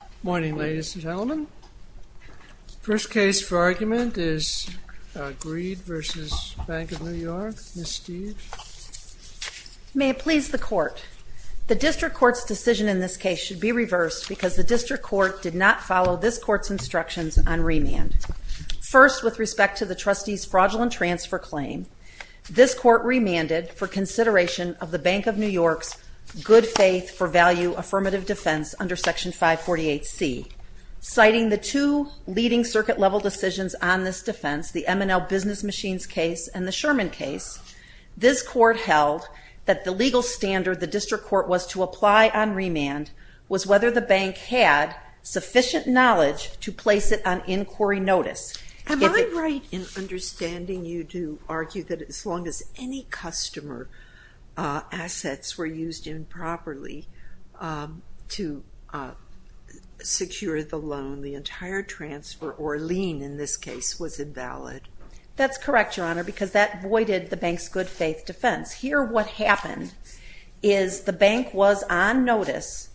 Good morning, ladies and gentlemen. The first case for argument is Grede v. Bank of New York. Ms. Steeve. May it please the Court, the District Court's decision in this case should be reversed because the District Court did not follow this Court's instructions on remand. First, with respect to the trustee's fraudulent transfer claim, this Court remanded for consideration of the Bank of New York's good faith for value affirmative defense under Section 548C. Citing the two leading circuit level decisions on this defense, the M&L business machines case and the Sherman case, this Court held that the legal standard the District Court was to apply on remand was whether the bank had sufficient knowledge to place it on inquiry notice. Am I right in understanding you to argue that as long as any customer assets were used improperly to secure the loan, the entire transfer or lien in this case was invalid? That's correct, Your Honor, because that voided the bank's good faith defense. Here what happened is the bank was on notice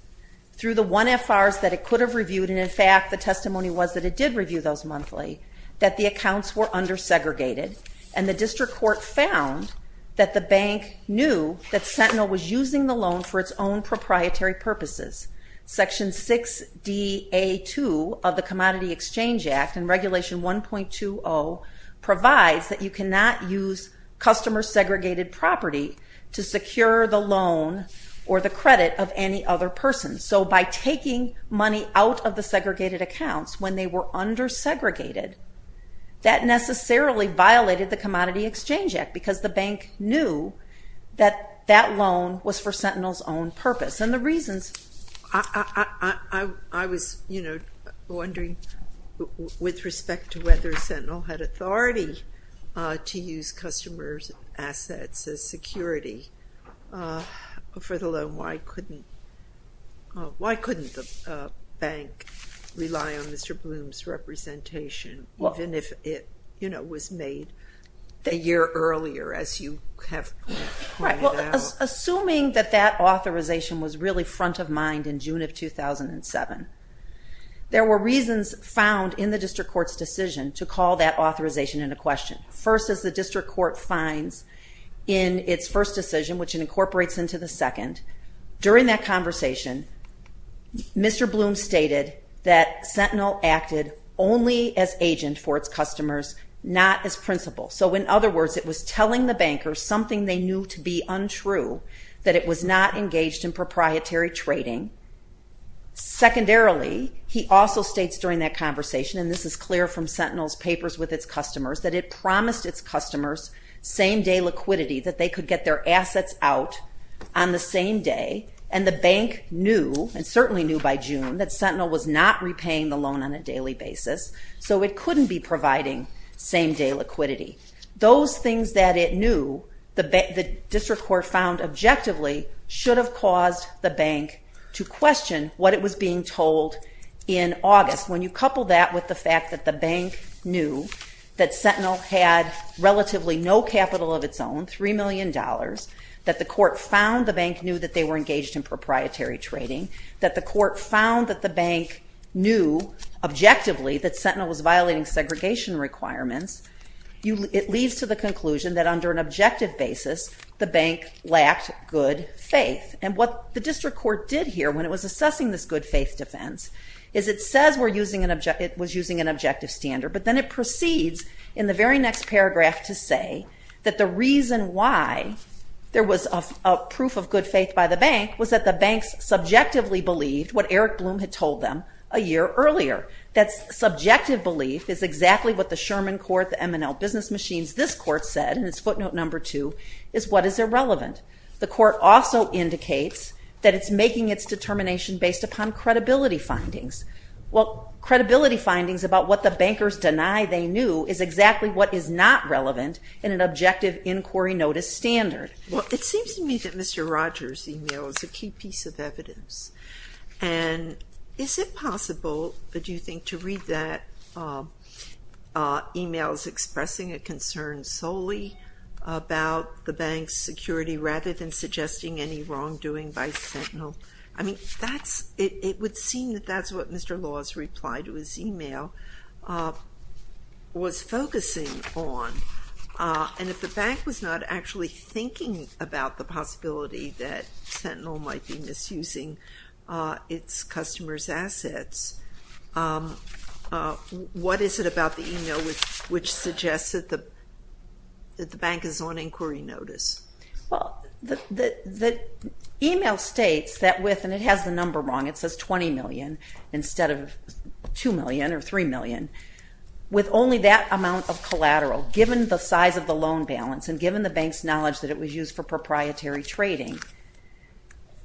through the 1FRs that it could have reviewed, and in fact the testimony was that it did review those monthly, that the accounts were undersegregated and the District Court found that the bank knew that Sentinel was using the loan for its own proprietary purposes. Section 6DA2 of the Commodity Exchange Act and Regulation 1.20 provides that you cannot use customer segregated property to secure the loan or the credit of any other person. So by taking money out of the segregated accounts when they were undersegregated, that necessarily violated the Commodity Exchange Act because the bank knew that that loan was for Sentinel's own purpose. And the reasons, I was wondering with respect to whether Sentinel had authority to use customer's assets as security for the loan. Why couldn't the bank rely on Mr. Bloom's representation even if it was made a year earlier as you have pointed out? Well, assuming that that authorization was really front of mind in June of 2007, there were reasons found in the District Court's decision to call that authorization into question. First, as the District Court finds in its first decision, which it incorporates into the second, during that conversation, Mr. Bloom stated that Sentinel acted only as agent for its customers, not as principal. So in other words, it was telling the bankers something they knew to be untrue, that it was not engaged in proprietary trading. Secondarily, he also states during that conversation, and this is clear from Sentinel's papers with its customers, that it promised its customers same-day liquidity, that they could get their assets out on the same day. And the bank knew, and certainly knew by June, that Sentinel was not repaying the loan on a daily basis. So it couldn't be providing same-day liquidity. Those things that it knew, the District Court found objectively, should have caused the bank to question what it was being told in August. When you couple that with the fact that the bank knew that Sentinel had relatively no capital of its own, $3 million, that the court found the bank knew that they were engaged in proprietary trading, that the court found that the bank knew objectively that Sentinel was violating segregation requirements, it leads to the conclusion that under an objective basis, the bank lacked good faith. And what the District Court did here when it was assessing this good faith defense, is it says it was using an objective standard. But then it proceeds in the very next paragraph to say that the reason why there was a proof of good faith by the bank was that the banks subjectively believed what Eric Bloom had told them a year earlier. That subjective belief is exactly what the Sherman Court, the M&L Business Machines, this court said, and it's footnote number two, is what is irrelevant. The court also indicates that it's making its determination based upon credibility findings. Well, credibility findings about what the bankers deny they knew is exactly what is not relevant in an objective inquiry notice standard. Well, it seems to me that Mr. Rogers' email is a key piece of evidence. And is it possible, do you think, to read that email as expressing a concern solely about the bank's security rather than suggesting any wrongdoing by Sentinel? I mean, it would seem that that's what Mr. Law's reply to his email was focusing on. And if the bank was not actually thinking about the possibility that Sentinel might be misusing its customers' assets, what is it about the email which suggests that the bank is on inquiry notice? Well, the email states that with, and it has the number wrong, it says $20 million instead of $2 million or $3 million. With only that amount of collateral, given the size of the loan balance and given the bank's knowledge that it was used for proprietary trading,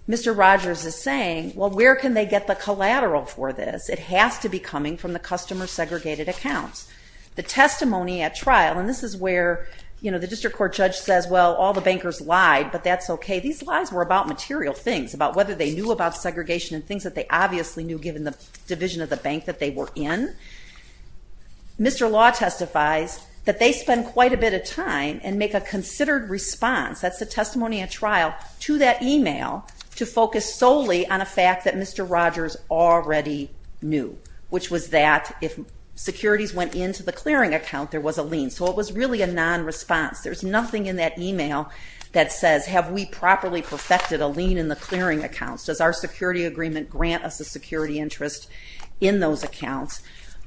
Mr. Rogers is saying, well, where can they get the collateral for this? It has to be coming from the customer segregated accounts. The testimony at trial, and this is where, you know, the district court judge says, well, all the bankers lied, but that's okay. These lies were about material things, about whether they knew about segregation and things that they obviously knew given the division of the bank that they were in. Mr. Law testifies that they spend quite a bit of time and make a considered response, that's the testimony at trial, to that email to focus solely on a fact that Mr. Rogers already knew. Which was that if securities went into the clearing account, there was a lien. So it was really a non-response. There's nothing in that email that says, have we properly perfected a lien in the clearing accounts? Does our security agreement grant us a security interest in those accounts?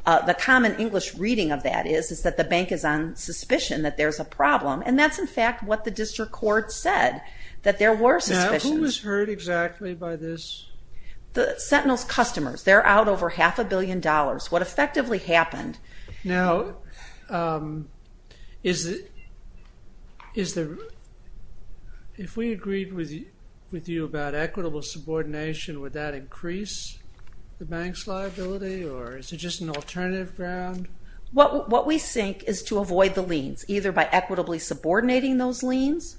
The common English reading of that is, is that the bank is on suspicion that there's a problem. And that's, in fact, what the district court said, that there were suspicions. Now, who was hurt exactly by this? Sentinel's customers. They're out over half a billion dollars. What effectively happened... Now, if we agreed with you about equitable subordination, would that increase the bank's liability? Or is it just an alternative ground? What we think is to avoid the liens, either by equitably subordinating those liens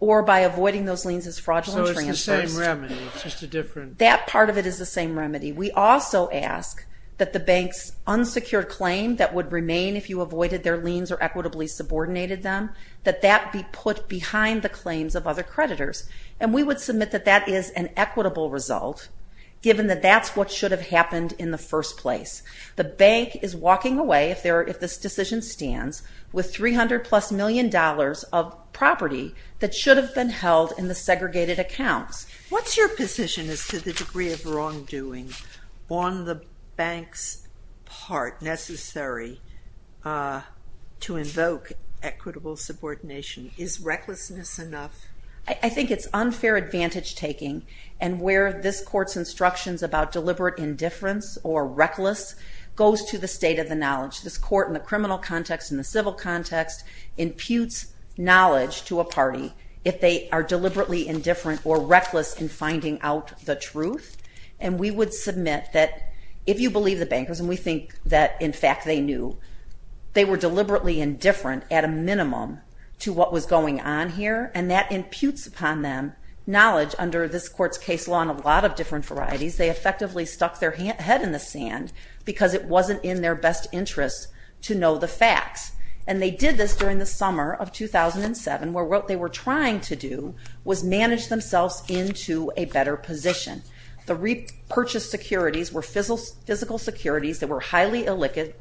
or by avoiding those liens as fraudulent transfers. That part of it is the same remedy. We also ask that the bank's unsecured claim that would remain if you avoided their liens or equitably subordinated them, that that be put behind the claims of other creditors. And we would submit that that is an equitable result, given that that's what should have happened in the first place. The bank is walking away, if this decision stands, with $300-plus million of property that should have been held in the segregated accounts. What's your position as to the degree of wrongdoing on the bank's part necessary to invoke equitable subordination? Is recklessness enough? I think it's unfair advantage-taking, and where this Court's instructions about deliberate indifference or reckless goes to the state of the knowledge. This Court, in the criminal context, in the civil context, imputes knowledge to a party if they are deliberately indifferent or reckless in finding out the truth. And we would submit that if you believe the bankers, and we think that, in fact, they knew, they were deliberately indifferent, at a minimum, to what was going on here. And that imputes upon them knowledge under this Court's case law on a lot of different varieties. They effectively stuck their head in the sand because it wasn't in their best interest to know the facts. And they did this during the summer of 2007, where what they were trying to do was manage themselves into a better position. The repurchased securities were physical securities that were highly illiquid.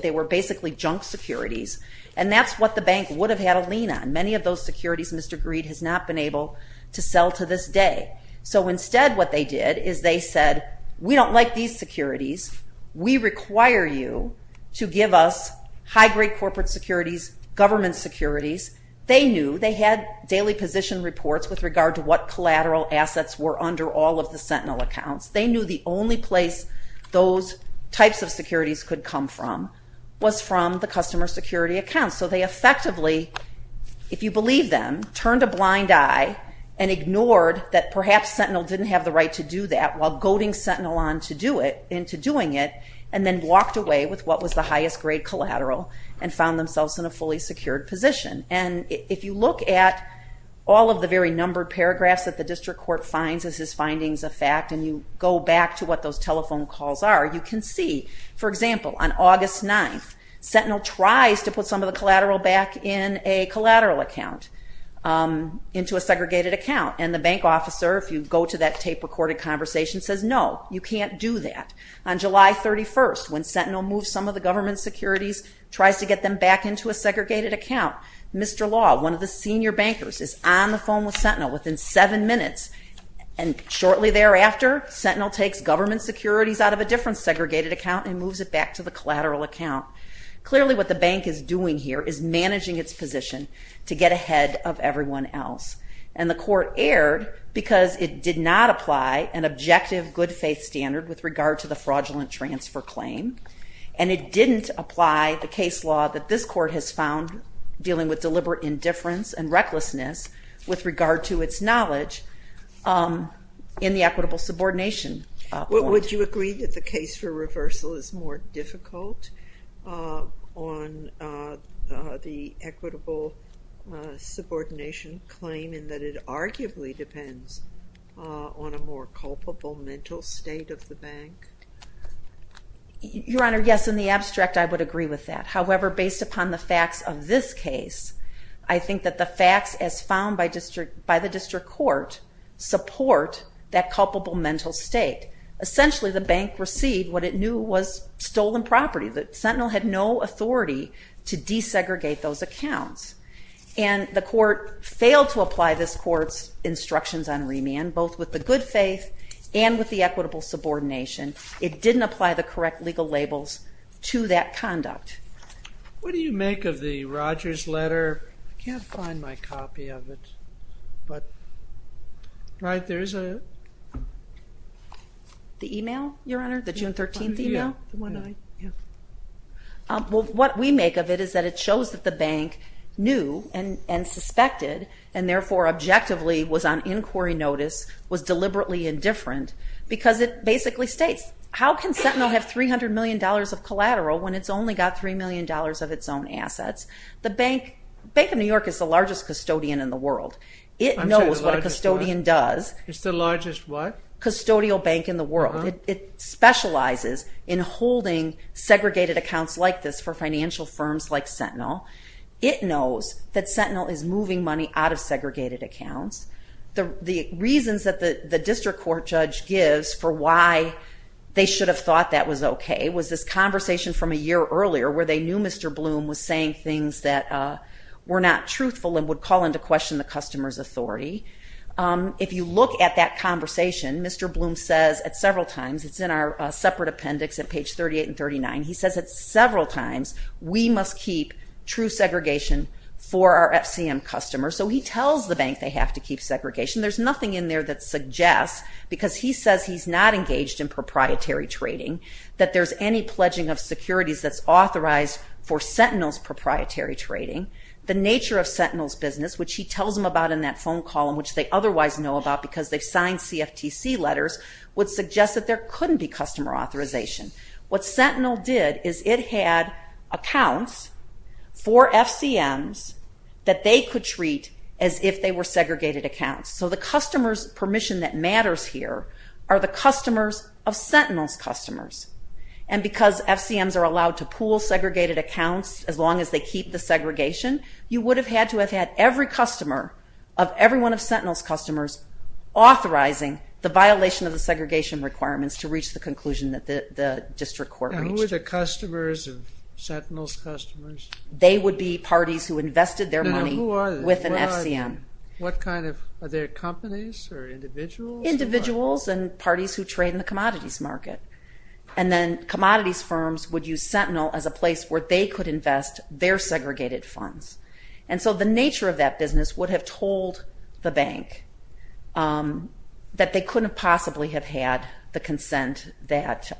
They were basically junk securities. And that's what the bank would have had a lean on. Many of those securities Mr. Greed has not been able to sell to this day. So instead what they did is they said, we don't like these securities. We require you to give us high-grade corporate securities, government securities. They knew. They had daily position reports with regard to what collateral assets were under all of the Sentinel accounts. They knew the only place those types of securities could come from was from the customer security accounts. So they effectively, if you believe them, turned a blind eye and ignored that perhaps Sentinel didn't have the right to do that, while goading Sentinel on to doing it, and then walked away with what was the highest-grade collateral and found themselves in a fully secured position. And if you look at all of the very numbered paragraphs that the District Court finds as his findings of fact, and you go back to what those telephone calls are, you can see, for example, on August 9th, Sentinel tries to put some of the collateral back in a collateral account into a segregated account. And the bank officer, if you go to that tape-recorded conversation, says, no, you can't do that. On July 31st, when Sentinel moves some of the government securities, tries to get them back into a segregated account, Mr. Law, one of the senior bankers, is on the phone with Sentinel. Within seven minutes, and shortly thereafter, Sentinel takes government securities out of a different segregated account and moves it back to the collateral account. Clearly what the bank is doing here is managing its position to get ahead of everyone else. And the Court erred because it did not apply an objective good-faith standard with regard to the fraudulent transfer claim, and it didn't apply the case law that this Court has found dealing with deliberate indifference and recklessness with regard to its knowledge in the equitable subordination point. Would you agree that the case for reversal is more difficult on the equitable subordination claim in that it arguably depends on a more culpable mental state of the bank? Your Honor, yes, in the abstract I would agree with that. However, based upon the facts of this case, I think that the facts as found by the District Court support that culpable mental state. Essentially, the bank received what it knew was stolen property. Sentinel had no authority to desegregate those accounts. And the Court failed to apply this Court's instructions on remand, both with the good faith and with the equitable subordination. It didn't apply the correct legal labels to that conduct. What do you make of the Rogers letter? I can't find my copy of it, but right there is a... The email, Your Honor, the June 13th email? What we make of it is that it shows that the bank knew and suspected and therefore objectively was on inquiry notice, was deliberately indifferent, because it basically states, how can Sentinel have $300 million of collateral when it's only got $3 million of its own assets? The Bank of New York is the largest custodian in the world. It knows what a custodian does. It's the largest what? Custodial bank in the world. It specializes in holding segregated accounts like this for financial firms like Sentinel. It knows that Sentinel is moving money out of segregated accounts. The reasons that the district court judge gives for why they should have thought that was okay was this conversation from a year earlier where they knew Mr. Bloom was saying things that were not truthful and would call into question the customer's authority. If you look at that conversation, Mr. Bloom says at several times, it's in our separate appendix at page 38 and 39, he says at several times we must keep true segregation for our FCM customers. So he tells the bank they have to keep segregation. There's nothing in there that suggests, because he says he's not engaged in proprietary trading, that there's any pledging of securities that's authorized for Sentinel's proprietary trading. The nature of Sentinel's business, which he tells them about in that phone call and which they otherwise know about because they've signed CFTC letters, would suggest that there couldn't be customer authorization. What Sentinel did is it had accounts for FCMs that they could treat as if they were segregated accounts. So the customer's permission that matters here are the customers of Sentinel's customers. And because FCMs are allowed to pool segregated accounts as long as they keep the segregation, you would have had to have had every customer of every one of Sentinel's customers authorizing the violation of the segregation requirements to reach the conclusion that the district court reached. And who are the customers of Sentinel's customers? They would be parties who invested their money with an FCM. What kind of, are there companies or individuals? Individuals and parties who trade in the commodities market. And then commodities firms would use Sentinel as a place where they could invest their segregated funds. And so the nature of that business would have told the bank that they couldn't possibly have had the consent that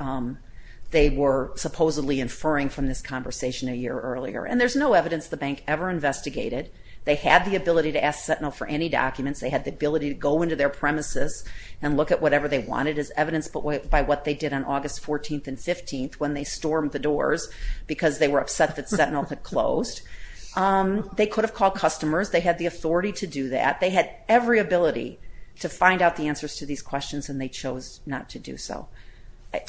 they were supposedly inferring from this conversation a year earlier. And there's no evidence the bank ever investigated. They had the ability to ask Sentinel for any documents. They had the ability to go into their premises and look at whatever they wanted as evidence by what they did on August 14th and 15th when they stormed the doors because they were upset that Sentinel had closed. They could have called customers. They had the authority to do that. They had every ability to find out the answers to these questions and they chose not to do so.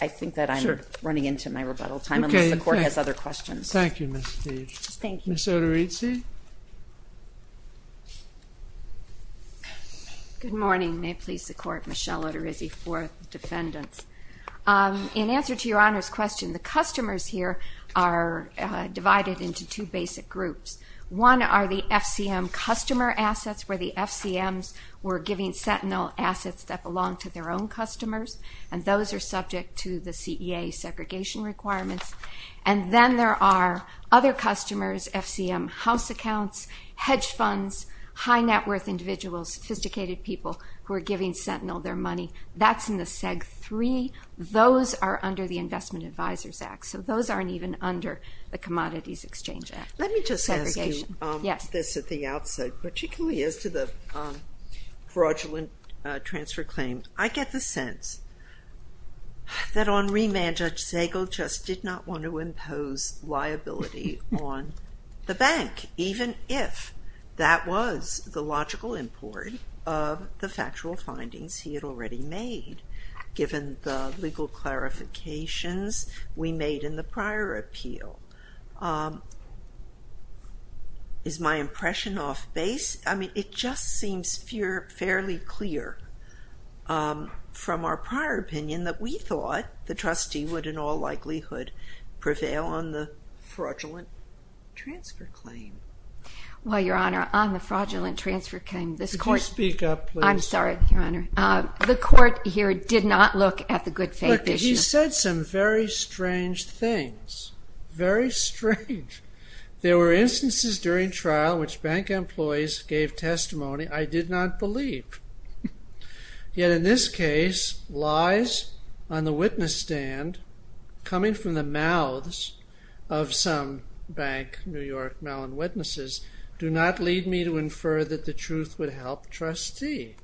I think that I'm running into my rebuttal time unless the court has other questions. Thank you, Ms. Steeve. Thank you. Ms. Oterizzi? Good morning. May it please the court. Michelle Oterizzi, Fourth Defendants. In answer to your Honor's question, the customers here are divided into two basic groups. One are the FCM customer assets where the FCMs were giving Sentinel assets that belonged to their own customers, and those are subject to the CEA segregation requirements. And then there are other customers, FCM house accounts, hedge funds, high net worth individuals, sophisticated people who are giving Sentinel their money. That's in the SEG-3. Those are under the Investment Advisors Act, so those aren't even under the Commodities Exchange Act. Let me just ask you this at the outset. Particularly as to the fraudulent transfer claim, I get the sense that on remand, Judge Zagel just did not want to impose liability on the bank, even if that was the logical import of the factual findings he had already made, given the legal clarifications we made in the prior appeal. Is my impression off base? I mean, it just seems fairly clear from our prior opinion that we thought the trustee would in all likelihood prevail on the fraudulent transfer claim. Well, Your Honor, on the fraudulent transfer claim, this Court... Could you speak up, please? I'm sorry, Your Honor. The Court here did not look at the good faith issue. You said some very strange things. Very strange. There were instances during trial in which bank employees gave testimony I did not believe. Yet in this case, lies on the witness stand coming from the mouths of some bank New York Mellon witnesses do not lead me to infer that the truth would help trustee.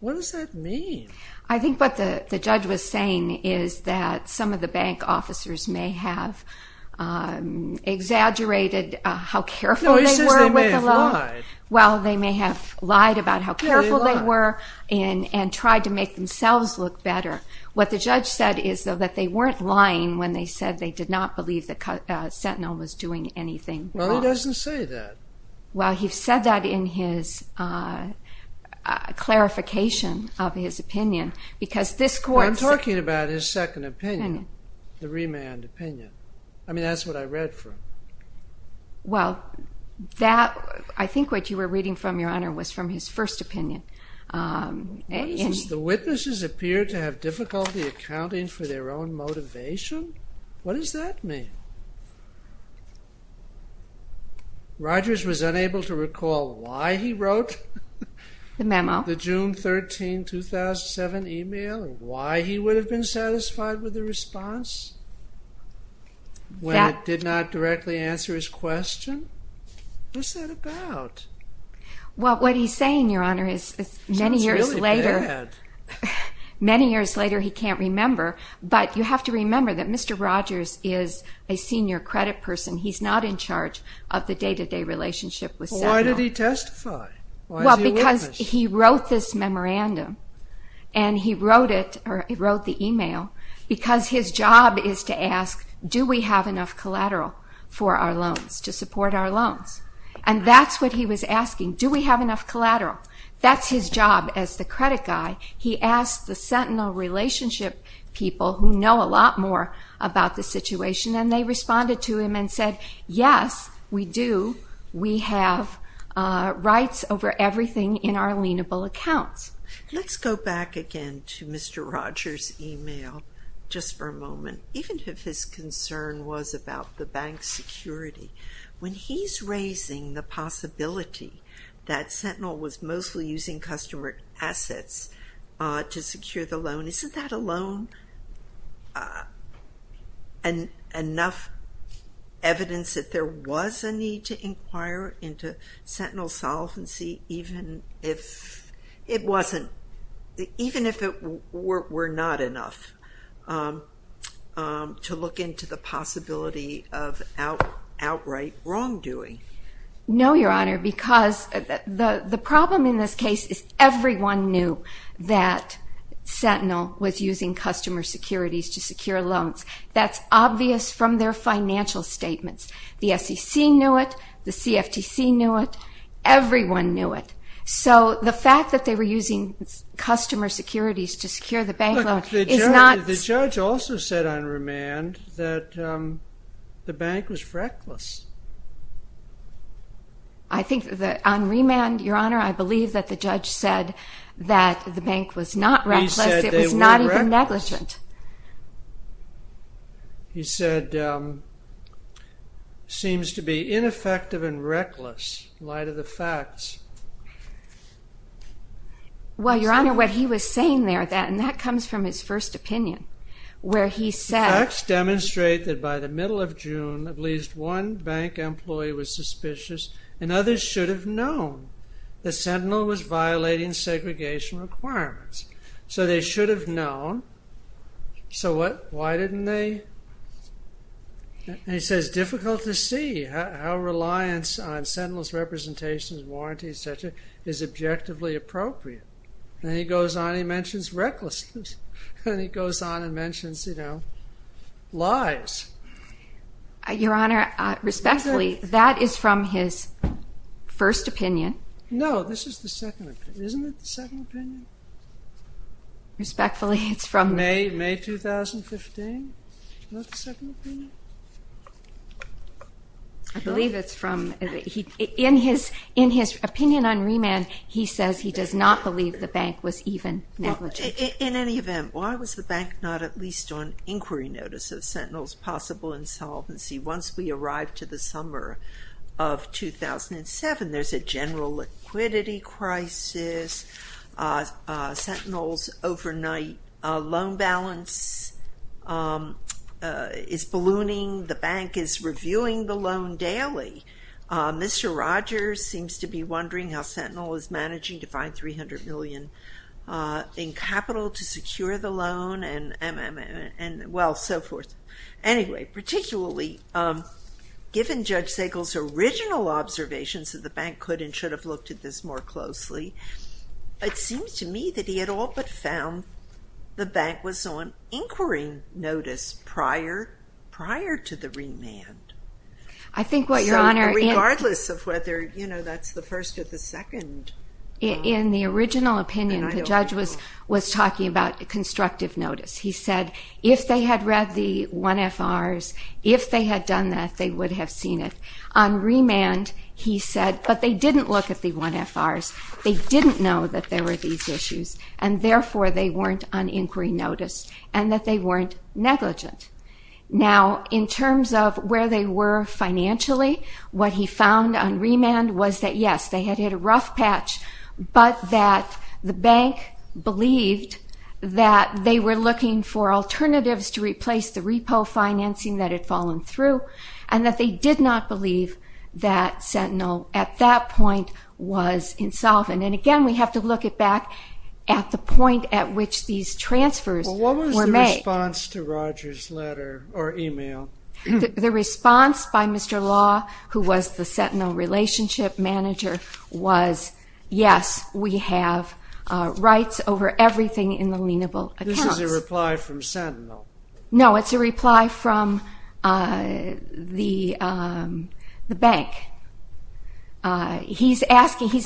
What does that mean? I think what the judge was saying is that some of the bank officers may have exaggerated how careful they were with the law. No, he says they may have lied. Well, they may have lied about how careful they were and tried to make themselves look better. What the judge said is that they weren't lying when they said they did not believe that Sentinel was doing anything wrong. Well, he doesn't say that. Well, he said that in his clarification of his opinion because this court... I'm talking about his second opinion, the remand opinion. I mean, that's what I read from. Well, that... I think what you were reading from, Your Honor, was from his first opinion. The witnesses appear to have difficulty accounting for their own motivation? What does that mean? Rogers was unable to recall why he wrote... The memo. ...the June 13, 2007 email and why he would have been satisfied with the response when it did not directly answer his question? What's that about? Well, what he's saying, Your Honor, is many years later... Sounds really bad. Many years later, he can't remember. But you have to remember that Mr. Rogers is a senior credit person. He's not in charge of the day-to-day relationship with Sentinel. Why did he testify? Well, because he wrote this memorandum and he wrote it, or he wrote the email, because his job is to ask, do we have enough collateral for our loans, to support our loans? And that's what he was asking, do we have enough collateral? That's his job as the credit guy. He asked the Sentinel relationship people who know a lot more about the situation, and they responded to him and said, yes, we do. We have rights over everything in our lienable accounts. Let's go back again to Mr. Rogers' email, just for a moment, even if his concern was about the bank's security. When he's raising the possibility that Sentinel was mostly using customer assets to secure the loan, isn't that alone enough evidence that there was a need to inquire into Sentinel's solvency, even if it wasn't, even if it were not enough to look into the possibility of outright wrongdoing? No, Your Honor, because the problem in this case is everyone knew that Sentinel was using customer securities to secure loans. That's obvious from their financial statements. The SEC knew it, the CFTC knew it, everyone knew it. So the fact that they were using customer securities to secure the bank loan is not... Look, the judge also said on remand that the bank was reckless. I think that on remand, Your Honor, I believe that the judge said that the bank was not reckless, it was not even negligent. He said, seems to be ineffective and reckless in light of the facts. Well, Your Honor, what he was saying there, and that comes from his first opinion, where he said... The facts demonstrate that by the middle of June, at least one bank employee was suspicious, and others should have known that Sentinel was violating segregation requirements. So they should have known. So what? Why didn't they? And he says, difficult to see how reliance on Sentinel's representations, warranties, etc., is objectively appropriate. And then he goes on, he mentions recklessness. And he goes on and mentions, you know, lies. Your Honor, respectfully, that is from his first opinion. No, this is the second opinion. Isn't it the second opinion? Respectfully, it's from... May 2015. Isn't that the second opinion? I believe it's from... In his opinion on remand, he says he does not believe the bank was even negligent. In any event, why was the bank not at least on inquiry notice of Sentinel's possible insolvency once we arrive to the summer of 2007? There's a general liquidity crisis. Sentinel's overnight loan balance is ballooning. The bank is reviewing the loan daily. Mr. Rogers seems to be wondering how Sentinel is managing to find 300 million in capital to secure the loan, and, well, so forth. Anyway, particularly, given Judge Sagel's original observations that the bank could and should have looked at this more closely, it seems to me that he had all but found the bank was on inquiry notice prior to the remand. I think what, Your Honor... Regardless of whether, you know, that's the first or the second... In the original opinion, the judge was talking about constructive notice. He said if they had read the 1FRs, if they had done that, they would have seen it. On remand, he said, but they didn't look at the 1FRs. They didn't know that there were these issues, and, therefore, they weren't on inquiry notice and that they weren't negligent. Now, in terms of where they were financially, what he found on remand was that, yes, they had hit a rough patch, but that the bank believed that they were looking for alternatives to replace the repo financing that had fallen through and that they did not believe that Sentinel, at that point, was insolvent. And, again, we have to look back at the point at which these transfers were made. Well, what was the response to Rogers' letter or email? The response by Mr. Law, who was the Sentinel relationship manager, was, yes, we have rights over everything in the lienable accounts. This is a reply from Sentinel. No, it's a reply from the bank. He's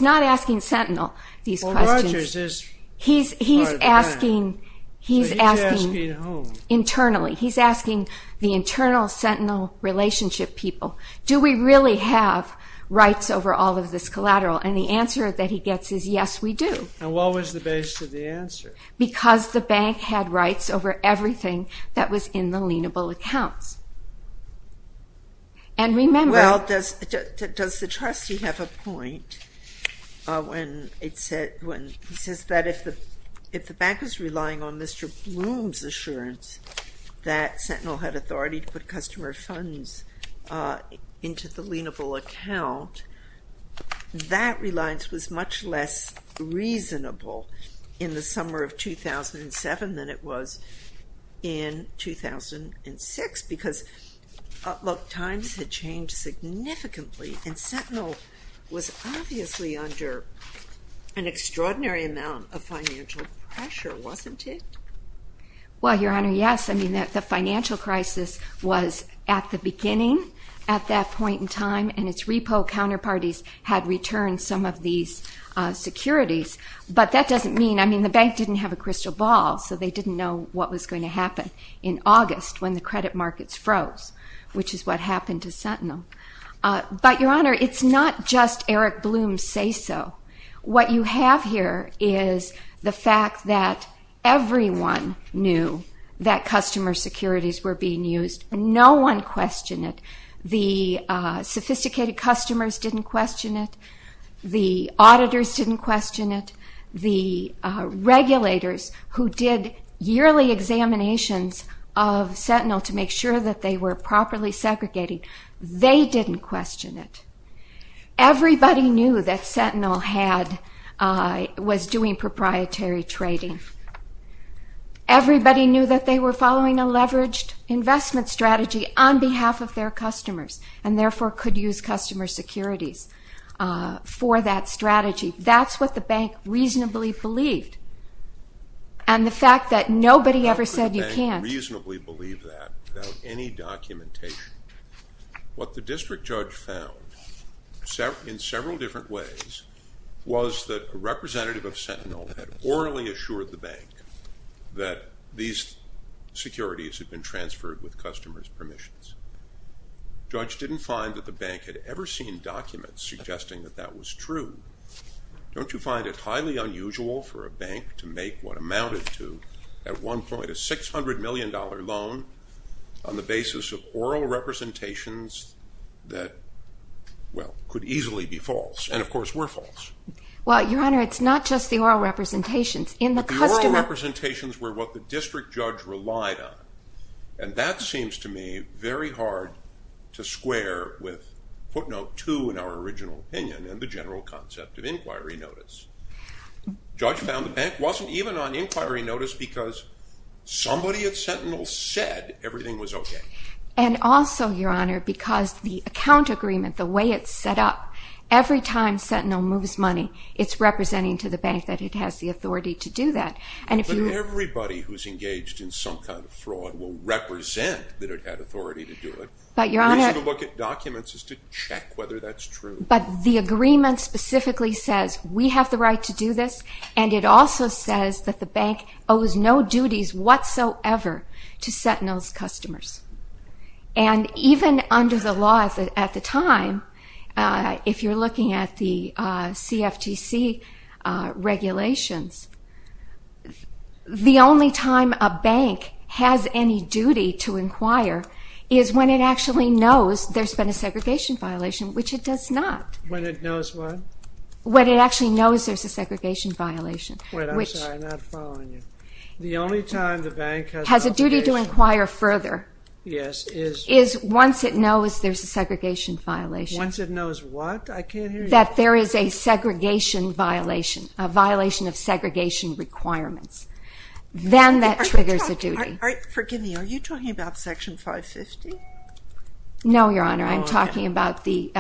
not asking Sentinel these questions. Well, Rogers is part of the bank. He's asking internally. He's asking the internal Sentinel relationship people, do we really have rights over all of this collateral? And the answer that he gets is, yes, we do. And what was the basis of the answer? Because the bank had rights over everything that was in the lienable accounts. And remember... Well, does the trustee have a point when he says that if the bank was relying on Mr. Bloom's assurance that Sentinel had authority to put customer funds into the lienable account, that reliance was much less reasonable in the summer of 2007 than it was in 2006 because, look, times had changed significantly and Sentinel was obviously under an extraordinary amount of financial pressure, wasn't it? Well, Your Honor, yes. I mean, the financial crisis was at the beginning at that point in time and its repo counterparties had returned some of these securities. But that doesn't mean... I mean, the bank didn't have a crystal ball, so they didn't know what was going to happen in August when the credit markets froze, which is what happened to Sentinel. But, Your Honor, it's not just Eric Bloom's say-so. What you have here is the fact that everyone knew that customer securities were being used. No one questioned it. The sophisticated customers didn't question it. The auditors didn't question it. The regulators who did yearly examinations of Sentinel to make sure that they were properly segregated, they didn't question it. Everybody knew that Sentinel was doing proprietary trading. Everybody knew that they were following a leveraged investment strategy on behalf of their customers and therefore could use customer securities for that strategy. That's what the bank reasonably believed. And the fact that nobody ever said you can't... How could the bank reasonably believe that without any documentation? What the district judge found in several different ways was that a representative of Sentinel had orally assured the bank that these securities had been transferred with customers' permissions. The judge didn't find that the bank had ever seen documents suggesting that that was true. Don't you find it highly unusual for a bank to make what amounted to, at one point, a $600 million loan on the basis of oral representations that, well, could easily be false? And, of course, were false. Well, Your Honor, it's not just the oral representations. In the customer... The oral representations were what the district judge relied on. And that seems to me very hard to square with footnote 2 in our original opinion and the general concept of inquiry notice. The judge found the bank wasn't even on inquiry notice because somebody at Sentinel said everything was okay. And also, Your Honor, because the account agreement, the way it's set up, every time Sentinel moves money, it's representing to the bank that it has the authority to do that. And if you... But everybody who's engaged in some kind of fraud will represent that it had authority to do it. But, Your Honor... The reason to look at documents is to check whether that's true. But the agreement specifically says, we have the right to do this, and it also says that the bank owes no duties whatsoever to Sentinel's customers. And even under the law at the time, if you're looking at the CFTC regulations, the only time a bank has any duty to inquire is when it actually knows there's been a segregation violation, which it does not. When it knows what? When it actually knows there's a segregation violation. Wait, I'm sorry, I'm not following you. The only time the bank has... Has a duty to inquire further... Yes, is... Once it knows what? I can't hear you. That there is a segregation violation, a violation of segregation requirements. Then that triggers a duty. Forgive me, are you talking about Section 550? No, Your Honor, I'm talking about the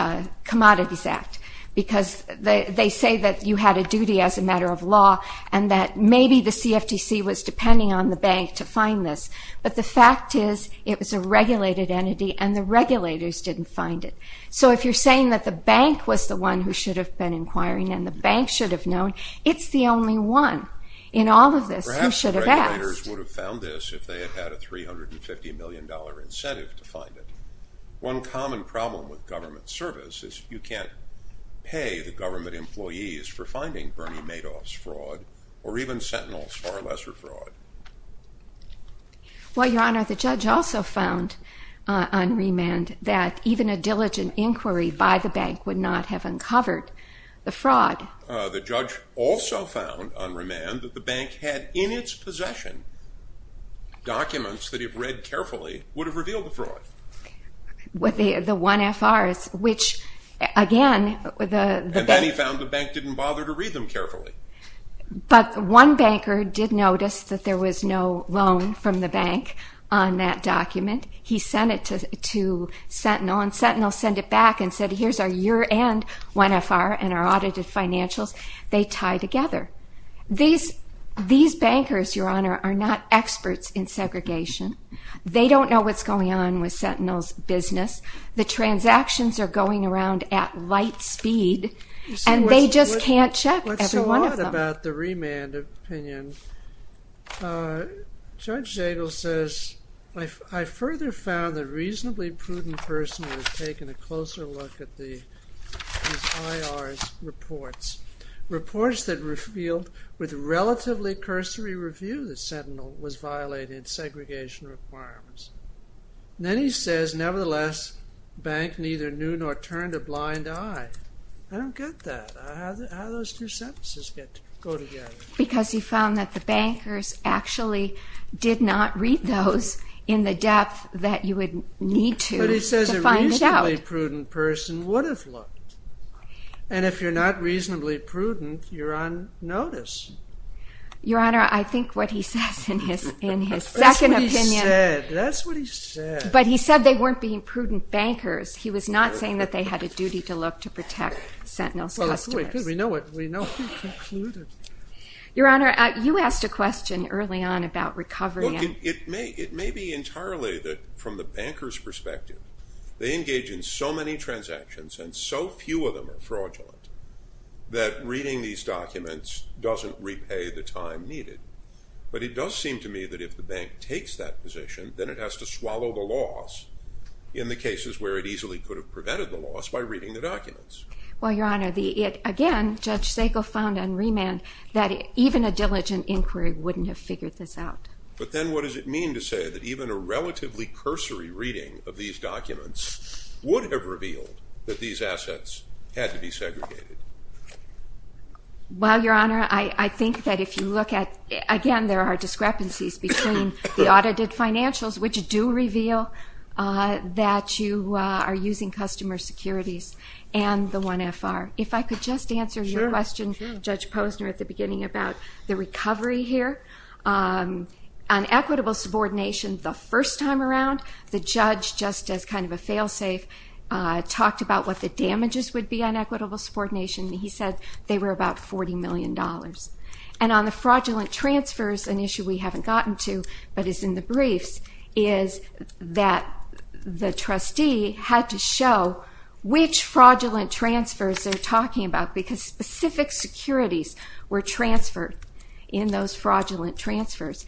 Commodities Act. Because they say that you had a duty as a matter of law, and that maybe the CFTC was depending on the bank to find this. But the fact is, it was a regulated entity, and the regulators didn't find it. So if you're saying that the bank was the one who should have been inquiring and the bank should have known, it's the only one in all of this who should have asked. Perhaps the regulators would have found this if they had had a $350 million incentive to find it. One common problem with government service is you can't pay the government employees for finding Bernie Madoff's fraud or even Sentinel's far lesser fraud. Well, Your Honor, the judge also found on remand that even a diligent inquiry by the bank would not have uncovered the fraud. The judge also found on remand that the bank had in its possession documents that if read carefully would have revealed the fraud. The 1FRs, which again... And then he found the bank didn't bother to read them carefully. But one banker did notice that there was no loan from the bank on that document. He sent it to Sentinel and Sentinel sent it back and said, here's our year-end 1FR and our audited financials. They tie together. These bankers, Your Honor, are not experts in segregation. They don't know what's going on with Sentinel's business. The transactions are going around at light speed and they just can't check every one of them. Let's talk about the remand opinion. Judge Zagel says, I further found that a reasonably prudent person would have taken a closer look at these IRs reports. Reports that revealed with relatively cursory review that Sentinel was violating segregation requirements. Then he says, nevertheless, the bank neither knew nor turned a blind eye. I don't get that. How do those two sentences go together? Because he found that the bankers actually did not read those in the depth that you would need to to find it out. But he says a reasonably prudent person would have looked. And if you're not reasonably prudent, you're on notice. Your Honor, I think what he says in his second opinion... That's what he said. But he said they weren't being prudent bankers. He was not saying that they had a duty to look to protect Sentinel's customers. We know what he concluded. Your Honor, you asked a question early on about recovery. It may be entirely from the banker's perspective. They engage in so many transactions, and so few of them are fraudulent, that reading these documents doesn't repay the time needed. But it does seem to me that if the bank takes that position, then it has to swallow the loss in the cases where it easily could have prevented the loss by reading the documents. Well, Your Honor, again, Judge Sacco found on remand that even a diligent inquiry wouldn't have figured this out. But then what does it mean to say that even a relatively cursory reading of these documents would have revealed that these assets had to be segregated? Well, Your Honor, I think that if you look at... Again, there are discrepancies between the audited financials, which do reveal that you are using customer securities, and the 1FR. If I could just answer your question, Judge Posner, at the beginning about the recovery here. On equitable subordination, the first time around, the judge, just as kind of a fail-safe, talked about what the damages would be on equitable subordination, and he said they were about $40 million. And on the fraudulent transfers, an issue we haven't gotten to, but is in the briefs, is that the trustee had to show which fraudulent transfers they're talking about, because specific securities were transferred in those fraudulent transfers.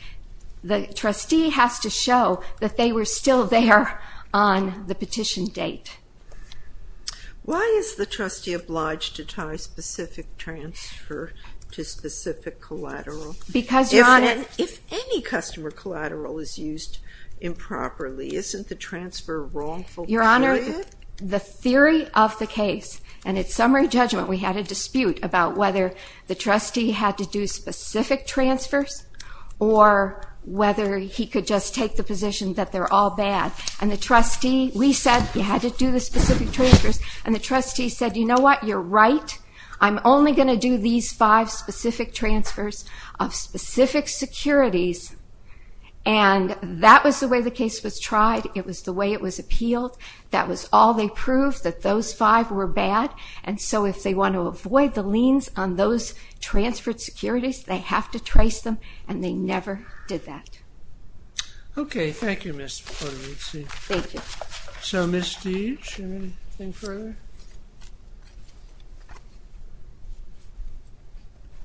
The trustee has to show that they were still there on the petition date. Why is the trustee obliged to tie specific transfer to specific collateral? Because, Your Honor... If any customer collateral is used improperly, isn't the transfer wrongful period? Your Honor, the theory of the case, and at summary judgment, we had a dispute about whether the trustee had to do specific transfers or whether he could just take the position that they're all bad. And the trustee, we said he had to do the specific transfers, and the trustee said, you know what, you're right. I'm only going to do these five specific transfers of specific securities. And that was the way the case was tried. It was the way it was appealed. That was all they proved, that those five were bad. And so if they want to avoid the liens on those transferred securities, they have to trace them, and they never did that. Okay, thank you, Ms. Polizzi. Thank you. So, Ms. Steeves, anything further?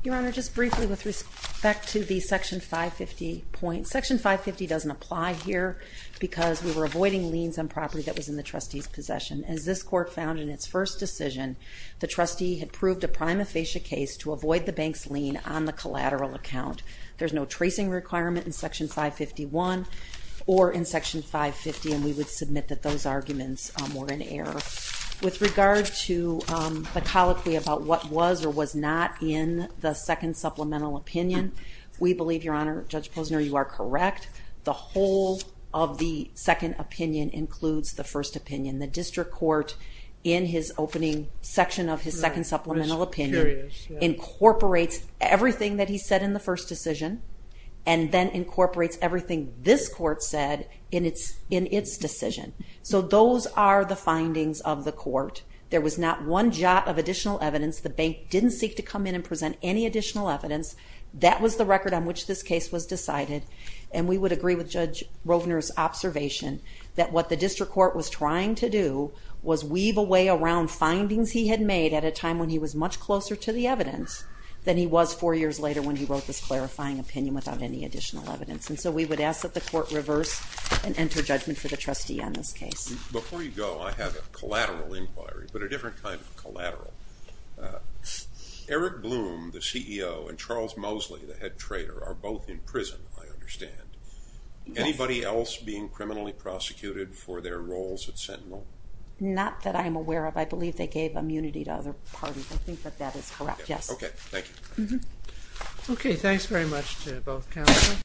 Your Honor, just briefly with respect to the Section 550 point, Section 550 doesn't apply here because we were avoiding liens on property that was in the trustee's possession. As this court found in its first decision, the trustee had proved a prima facie case to avoid the bank's lien on the collateral account. There's no tracing requirement in Section 551 or in Section 550, and we would submit that those arguments were in error. With regard to the colloquy about what was or was not in the second supplemental opinion, we believe, Your Honor, Judge Posner, you are correct. The whole of the second opinion includes the first opinion. The district court, in his opening section of his second supplemental opinion, incorporates everything that he said in the first decision and then incorporates everything this court said in its decision. So those are the findings of the court. There was not one jot of additional evidence. The bank didn't seek to come in and present any additional evidence. That was the record on which this case was decided, and we would agree with Judge Rovner's observation that what the district court was trying to do was weave away around findings he had made at a time when he was much closer to the evidence than he was four years later when he wrote this clarifying opinion without any additional evidence. And so we would ask that the court reverse and enter judgment for the trustee on this case. Before you go, I have a collateral inquiry, but a different kind of collateral. Eric Bloom, the CEO, and Charles Mosley, the head trader, are both in prison, I understand. Anybody else being criminally prosecuted for their roles at Sentinel? Not that I'm aware of. I believe they gave immunity to other parties. I think that that is correct, yes. Okay, thank you. Okay, thanks very much to both counsel.